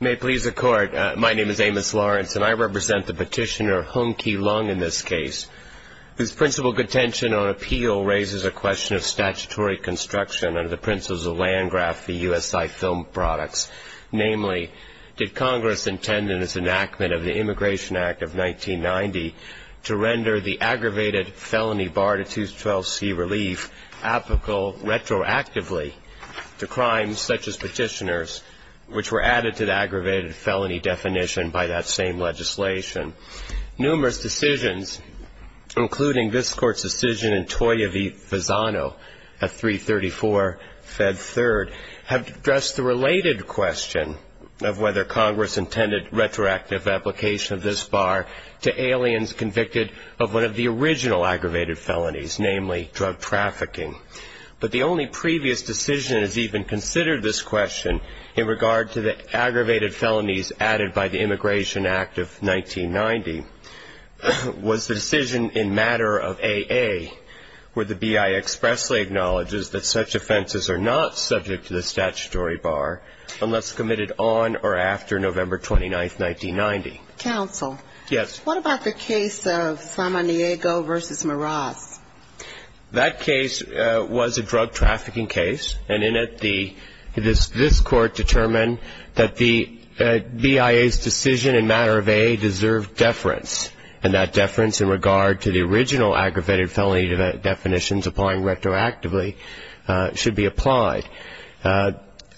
May it please the Court, my name is Amos Lawrence, and I represent the petitioner Hung Kee Leung in this case, whose principal contention on appeal raises a question of statutory construction under the principles of Landgraf v. USI Film Products, namely, did Congress intend in its enactment of the Immigration Act of 1990 to render the aggravated felony barred at 212c relief applicable retroactively to crimes such as petitioners, which were added to the aggravated felony definition by that same legislation. Numerous decisions, including this Court's decision in Toya v. Fasano at 334 Fed 3rd, have addressed the related question of whether Congress intended retroactive application of this bar to aliens convicted of one of the original aggravated felonies, namely, drug trafficking. But the only previous decision that has even considered this question in regard to the aggravated felonies added by the Immigration Act of 1990 was the decision in matter of AA, where the BI expressly acknowledges that such offenses are not subject to the statutory bar unless committed on or after November 29, 1990. Counsel. Yes. What about the case of Salmonego v. Meraz? That case was a drug trafficking case, and in it the this Court determined that the BIA's decision in matter of AA deserved deference, and that deference in regard to the original aggravated felony definitions applying retroactively should be applied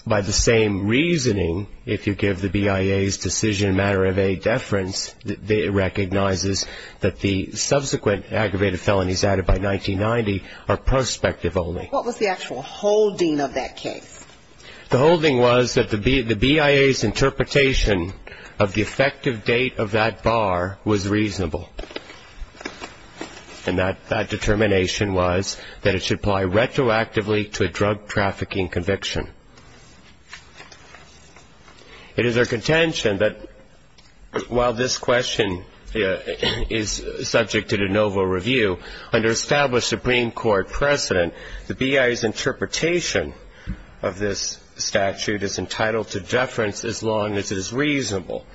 by the same reasoning if you give the BIA's decision in matter of AA deference, it recognizes that the subsequent aggravated felonies added by 1990 are prospective only. What was the actual holding of that case? The holding was that the BIA's interpretation of the effective date of that bar was reasonable, and that determination was that it should apply retroactively to a drug trafficking conviction. It is our contention that while this question is subject to de novo review, under established Supreme Court precedent, the BIA's interpretation of this statute is entitled to deference as long as it is reasonable,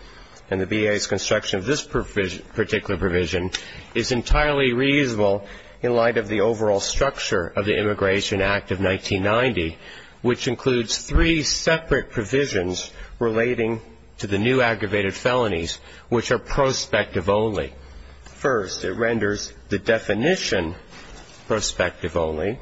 and the BIA's construction of this particular provision is entirely reasonable in light of the overall structure of the Immigration Act of 1990, which includes three separate provisions relating to the new aggravated felonies, which are prospective only. First, it renders the definition prospective only.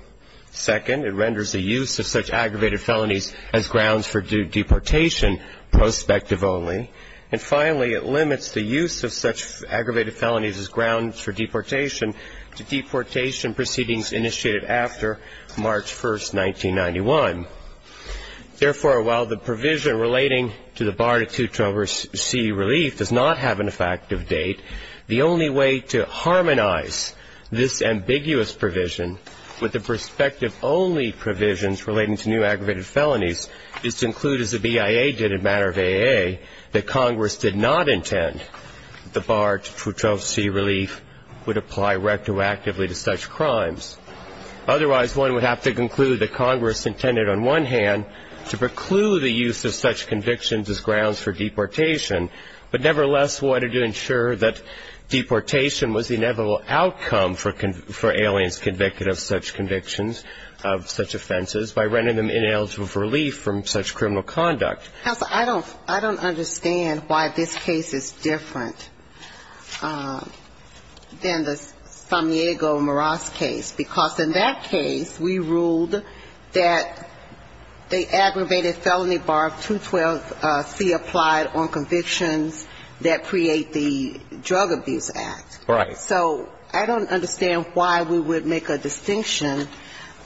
Second, it renders the use of such aggravated felonies as grounds for deportation prospective only. And finally, it limits the use of such aggravated felonies as grounds for deportation to deportation proceedings initiated after March 1st, 1991. Therefore, while the provision relating to the bar to 212C relief does not have an effective date, the only way to harmonize this ambiguous provision with the prospective only provisions relating to new aggravated felonies is to include, as the BIA did in matter of AA, that the bar to 212C relief would apply retroactively to such crimes. Otherwise, one would have to conclude that Congress intended on one hand to preclude the use of such convictions as grounds for deportation, but nevertheless wanted to ensure that deportation was the inevitable outcome for aliens convicted of such convictions of such offenses by rendering them ineligible for relief from such criminal conduct. Justice Sotomayor, I don't understand why this case is different than the Samiego-Moraz case, because in that case, we ruled that the aggravated felony bar of 212C applied on convictions that create the Drug Abuse Act. Right. So I don't understand why we would make a distinction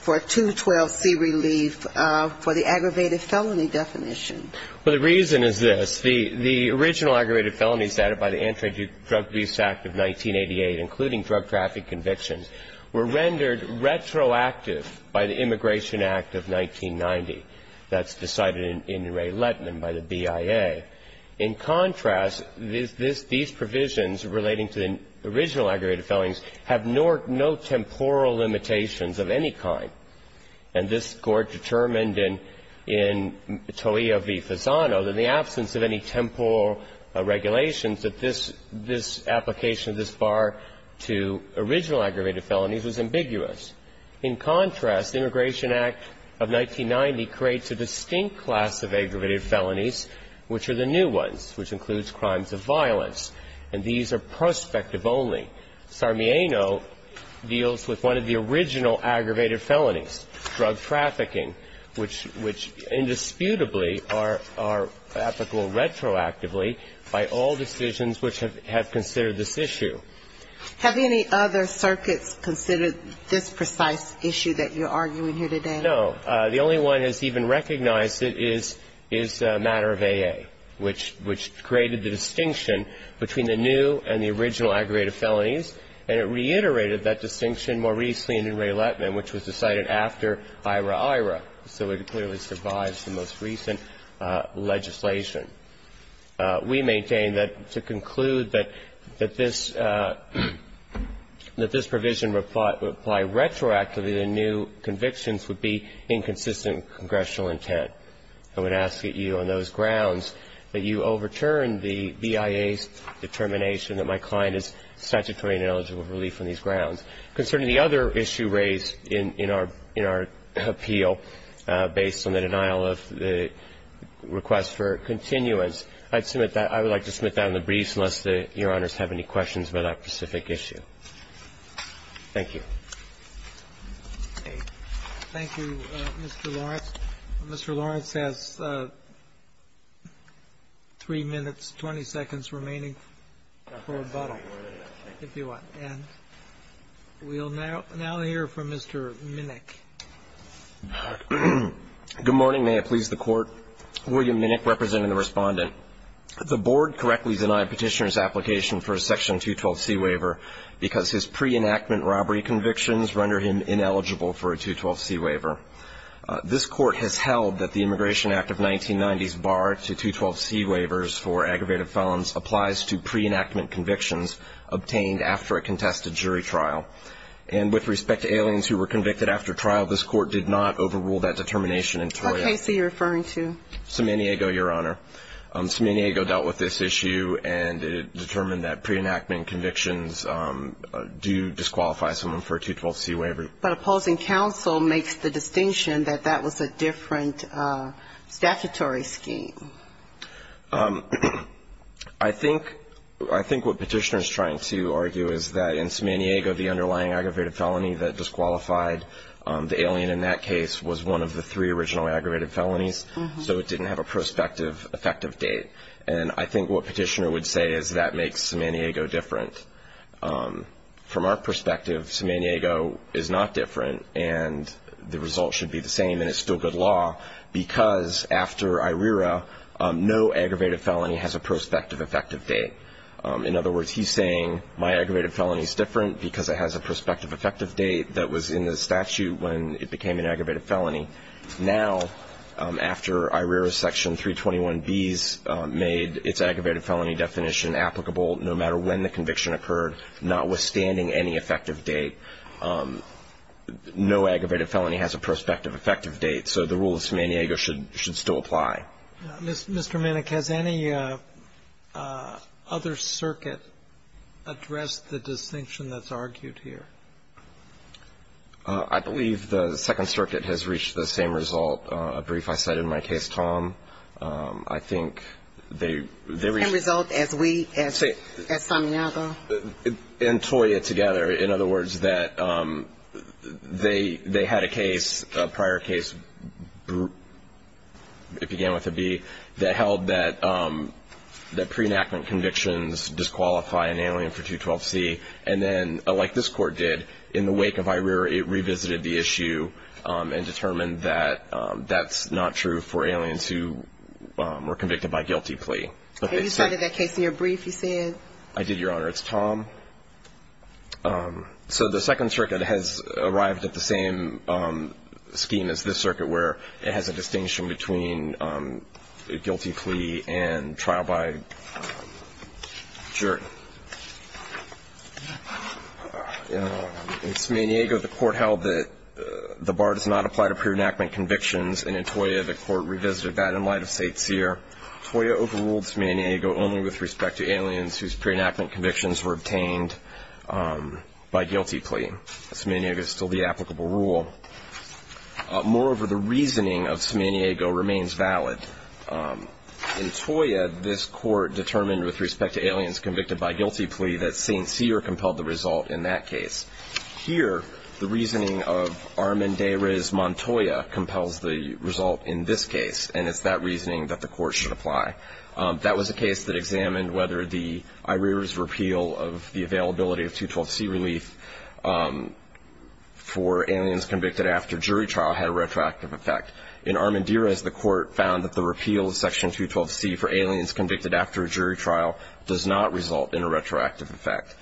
for 212C relief for the aggravated felony definition. Well, the reason is this. The original aggravated felonies added by the Anti-Drug Abuse Act of 1988, including drug traffic convictions, were rendered retroactive by the Immigration Act of 1990. That's decided in Ray Lettman by the BIA. In contrast, these provisions relating to the original aggravated felonies have no temporal limitations of any kind. And this Court determined in To'io v. Fasano that in the absence of any temporal regulations, that this application of this bar to original aggravated felonies was ambiguous. In contrast, the Immigration Act of 1990 creates a distinct class of aggravated felonies, which are the new ones, which includes crimes of violence. And these are prospective only. Sarmieno deals with one of the original aggravated felonies, drug trafficking, which indisputably are applicable retroactively by all decisions which have considered this issue. Have any other circuits considered this precise issue that you're arguing here today? No. The only one that's even recognized it is the matter of AA, which created the distinction between the new and the original aggravated felonies, and it reiterated that distinction more recently in Ray Lettman, which was decided after IRA-IRA, so it clearly survives the most recent legislation. We maintain that to conclude that this provision would apply retroactively to new convictions would be inconsistent with congressional intent. I would ask that you, on those grounds, that you overturn the BIA's determination that my client is statutory and eligible for relief on these grounds. Concerning the other issue raised in our appeal, based on the denial of the request for continuance, I'd submit that I would like to submit that in the briefs, unless Your Honors have any questions about that specific issue. Thank you. Thank you, Mr. Lawrence. Mr. Lawrence has 3 minutes, 20 seconds remaining for rebuttal, if you want. And we'll now hear from Mr. Minnick. Good morning. May it please the Court. William Minnick, representing the Respondent. The Board correctly denied Petitioner's application for a Section 212c waiver because his pre-enactment robbery convictions render him ineligible for a 212c waiver. This Court has held that the Immigration Act of 1990s barred 212c waivers for aggravated felons applies to pre-enactment convictions obtained after a contested jury trial. And with respect to aliens who were convicted after trial, this Court did not overrule that determination in Toya. What case are you referring to? San Diego, Your Honor. San Diego dealt with this issue and it determined that pre-enactment convictions do disqualify someone for a 212c waiver. But opposing counsel makes the distinction that that was a different statutory scheme. I think what Petitioner is trying to argue is that in San Diego, the underlying aggravated felony that disqualified the alien in that case was one of the three original aggravated felonies, so it didn't have a prospective effective date. And I think what Petitioner would say is that makes San Diego different. From our perspective, San Diego is not different and the result should be the same and it's still good law because after IRERA, no aggravated felony has a prospective effective date. In other words, he's saying my aggravated felony is different because it has a prospective effective date that was in the statute when it became an aggravated felony. Now, after IRERA section 321b's made its aggravated felony definition applicable, no matter when the conviction occurred, notwithstanding any effective date, no aggravated felony has a prospective effective date. So the rule of San Diego should still apply. Mr. Minnick, has any other circuit addressed the distinction that's argued here? I believe the Second Circuit has reached the same result. A brief I cited in my case, Tom, I think they reached... Same result as we, as San Diego? And toy it together. In other words, that they had a case, a prior case, it began with a B, that held that pre-enactment convictions disqualify an alien for 212c and then, like this court did, in the wake of IRERA, it revisited the issue and determined that that's not true for aliens who were convicted by guilty plea. And you cited that case in your brief, you said? I did, Your Honor. It's Tom. So the Second Circuit has arrived at the same scheme as this circuit, where it has a distinction between a guilty plea and trial by jury. In San Diego, the court held that the bar does not apply to pre-enactment convictions, and in Toya, the court revisited that in light of State Seer. Toya overruled San Diego only with respect to aliens whose pre-enactment convictions were obtained by guilty plea. San Diego is still the applicable rule. Moreover, the reasoning of San Diego remains valid. In Toya, this court determined with respect to aliens convicted by guilty plea that St. Seer compelled the result in that case. Here, the reasoning of Armand de Riz Montoya compels the result in this case, and it's that reasoning that the court should apply. That was a case that examined whether the IRERA's repeal of the availability of 212C relief for aliens convicted after jury trial had a retroactive effect. In Armand de Riz, the court found that the repeal of Section 212C for aliens convicted after a jury trial does not result in a retroactive effect.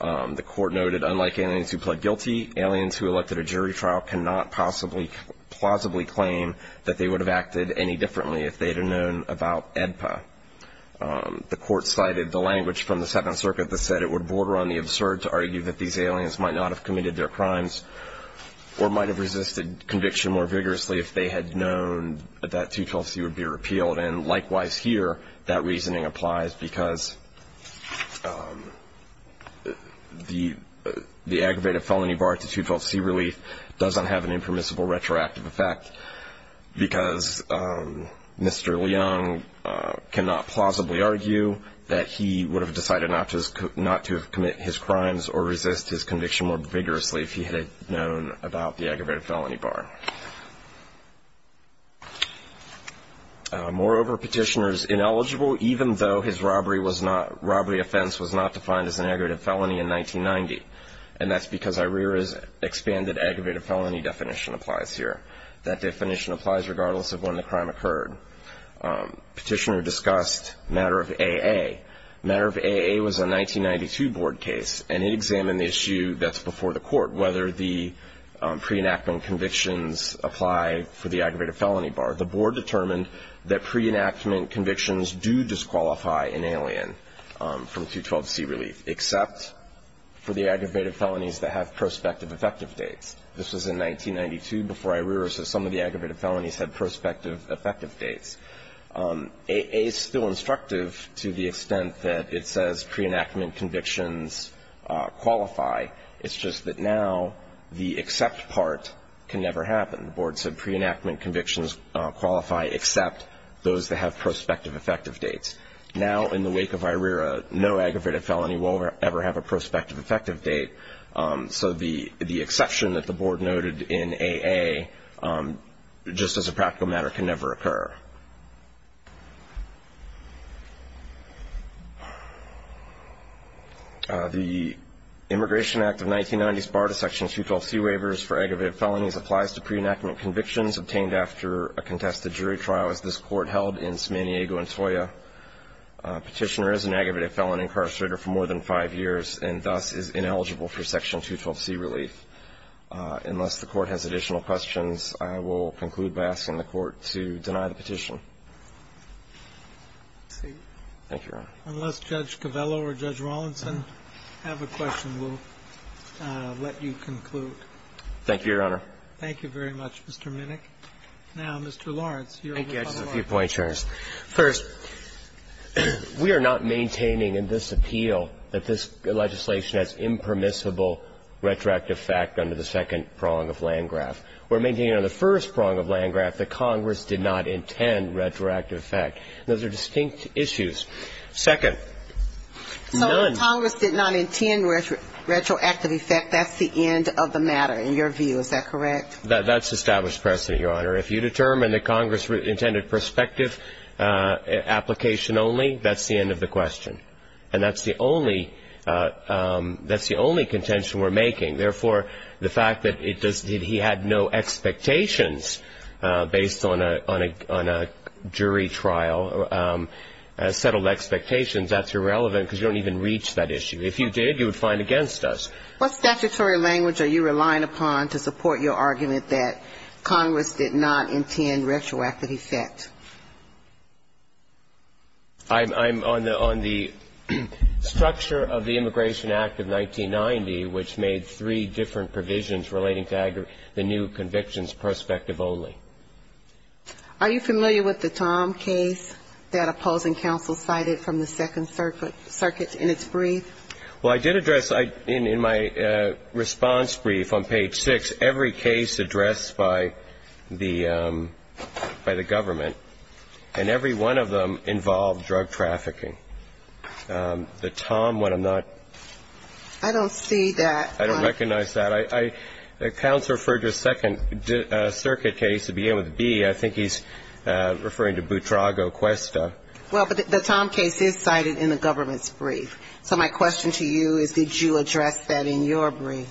The court noted, unlike aliens who pled guilty, aliens who elected a jury trial cannot plausibly claim that they would have acted any differently if they had known about AEDPA. The court cited the language from the Seventh Circuit that said it would be an order on the absurd to argue that these aliens might not have committed their crimes or might have resisted conviction more vigorously if they had known that 212C would be repealed. And likewise here, that reasoning applies because the aggravated felony barred to 212C relief doesn't have an impermissible retroactive effect because Mr. Leung cannot plausibly argue that he would have decided not to have committed his crimes or resist his conviction more vigorously if he had known about the aggravated felony bar. Moreover, Petitioner is ineligible even though his robbery offense was not defined as an aggravated felony in 1990. And that's because IRERA's expanded aggravated felony definition applies here. That definition applies regardless of when the crime occurred. Petitioner discussed matter of AA. Matter of AA was a 1992 board case, and it examined the issue that's before the court, whether the pre-enactment convictions apply for the aggravated felony bar. The board determined that pre-enactment convictions do disqualify an alien from 212C relief except for the aggravated felonies that have prospective effective dates. This was in 1992 before IRERA, so some of the aggravated felonies had prospective effective dates. AA is still instructive to the extent that it says pre-enactment convictions qualify. It's just that now the except part can never happen. The board said pre-enactment convictions qualify except those that have prospective effective dates. Now in the wake of IRERA, no aggravated felony will ever have a prospective effective date. So the exception that the board noted in AA, just as a practical matter, can never occur. The Immigration Act of 1990s barred a section of 212C waivers for aggravated felonies applies to pre-enactment convictions obtained after a contested jury trial, as this court held in San Diego and Toya. Petitioner is an aggravated felony incarcerator for more than five years and thus is ineligible for section 212C relief. Unless the Court has additional questions, I will conclude by asking the Court to deny the petition. Thank you, Your Honor. Unless Judge Covello or Judge Rawlinson have a question, we'll let you conclude. Thank you, Your Honor. Thank you very much, Mr. Minnick. Now, Mr. Lawrence. Thank you. I just have a few points, Your Honor. First, we are not maintaining in this appeal that this legislation has impermissible retroactive effect under the second prong of Landgraf. We're maintaining on the first prong of Landgraf that Congress did not intend retroactive effect. Those are distinct issues. Second, none. So if Congress did not intend retroactive effect, that's the end of the matter, in your view. Is that correct? That's established precedent, Your Honor. If you determine that Congress intended prospective application only, that's the end of the question. And that's the only contention we're making. Therefore, the fact that he had no expectations based on a jury trial, settled expectations, that's irrelevant because you don't even reach that issue. If you did, you would find against us. What statutory language are you relying upon to support your argument that Congress did not intend retroactive effect? I'm on the structure of the Immigration Act of 1990, which made three different provisions relating to the new convictions prospective only. Are you familiar with the Tom case that opposing counsel cited from the Second Circuit in its brief? Well, I did address in my response brief on page 6, every case addressed by the government, and every one of them involved drug trafficking. The Tom one, I'm not ---- I don't see that. I don't recognize that. Counsel referred to a Second Circuit case to begin with, B. I think he's referring to Boutrago, Cuesta. Well, but the Tom case is cited in the government's brief. So my question to you is, did you address that in your brief?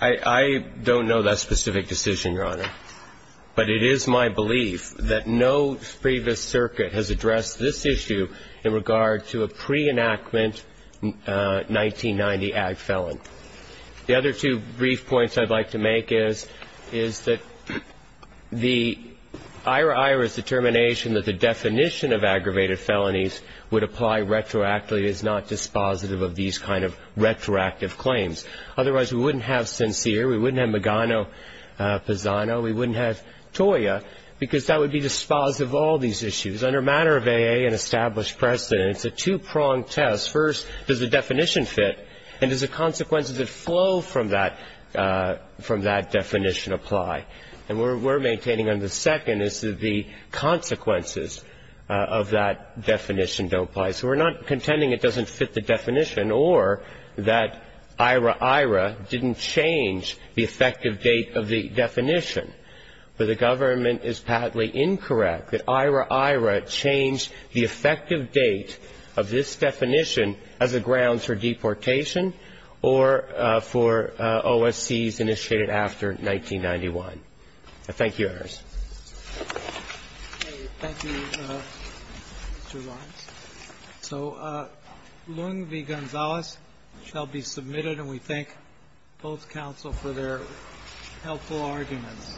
I don't know that specific decision, Your Honor. But it is my belief that no previous circuit has addressed this issue in regard to a pre-enactment 1990 ag felon. The other two brief points I'd like to make is, is that the IRA-IRA's determination that the definition of aggravated felonies would apply retroactively is not dispositive of these kind of retroactive claims. Otherwise, we wouldn't have Sincere. We wouldn't have Magano-Pisano. We wouldn't have Toya, because that would be dispositive of all these issues. Under a matter of AA and established precedent, it's a two-pronged test. First, does the definition fit, and does the consequences that flow from that definition apply? And we're maintaining under the second is that the consequences of that definition don't apply. So we're not contending it doesn't fit the definition or that IRA-IRA didn't change the effective date of the definition. But the government is partly incorrect that IRA-IRA changed the effective date of this definition as a grounds for deportation or for OSCs initiated after 1991. I thank you, Your Honors. Thank you, Mr. Lawrence. So Lung v. Gonzalez shall be submitted, and we thank both counsel for their helpful arguments.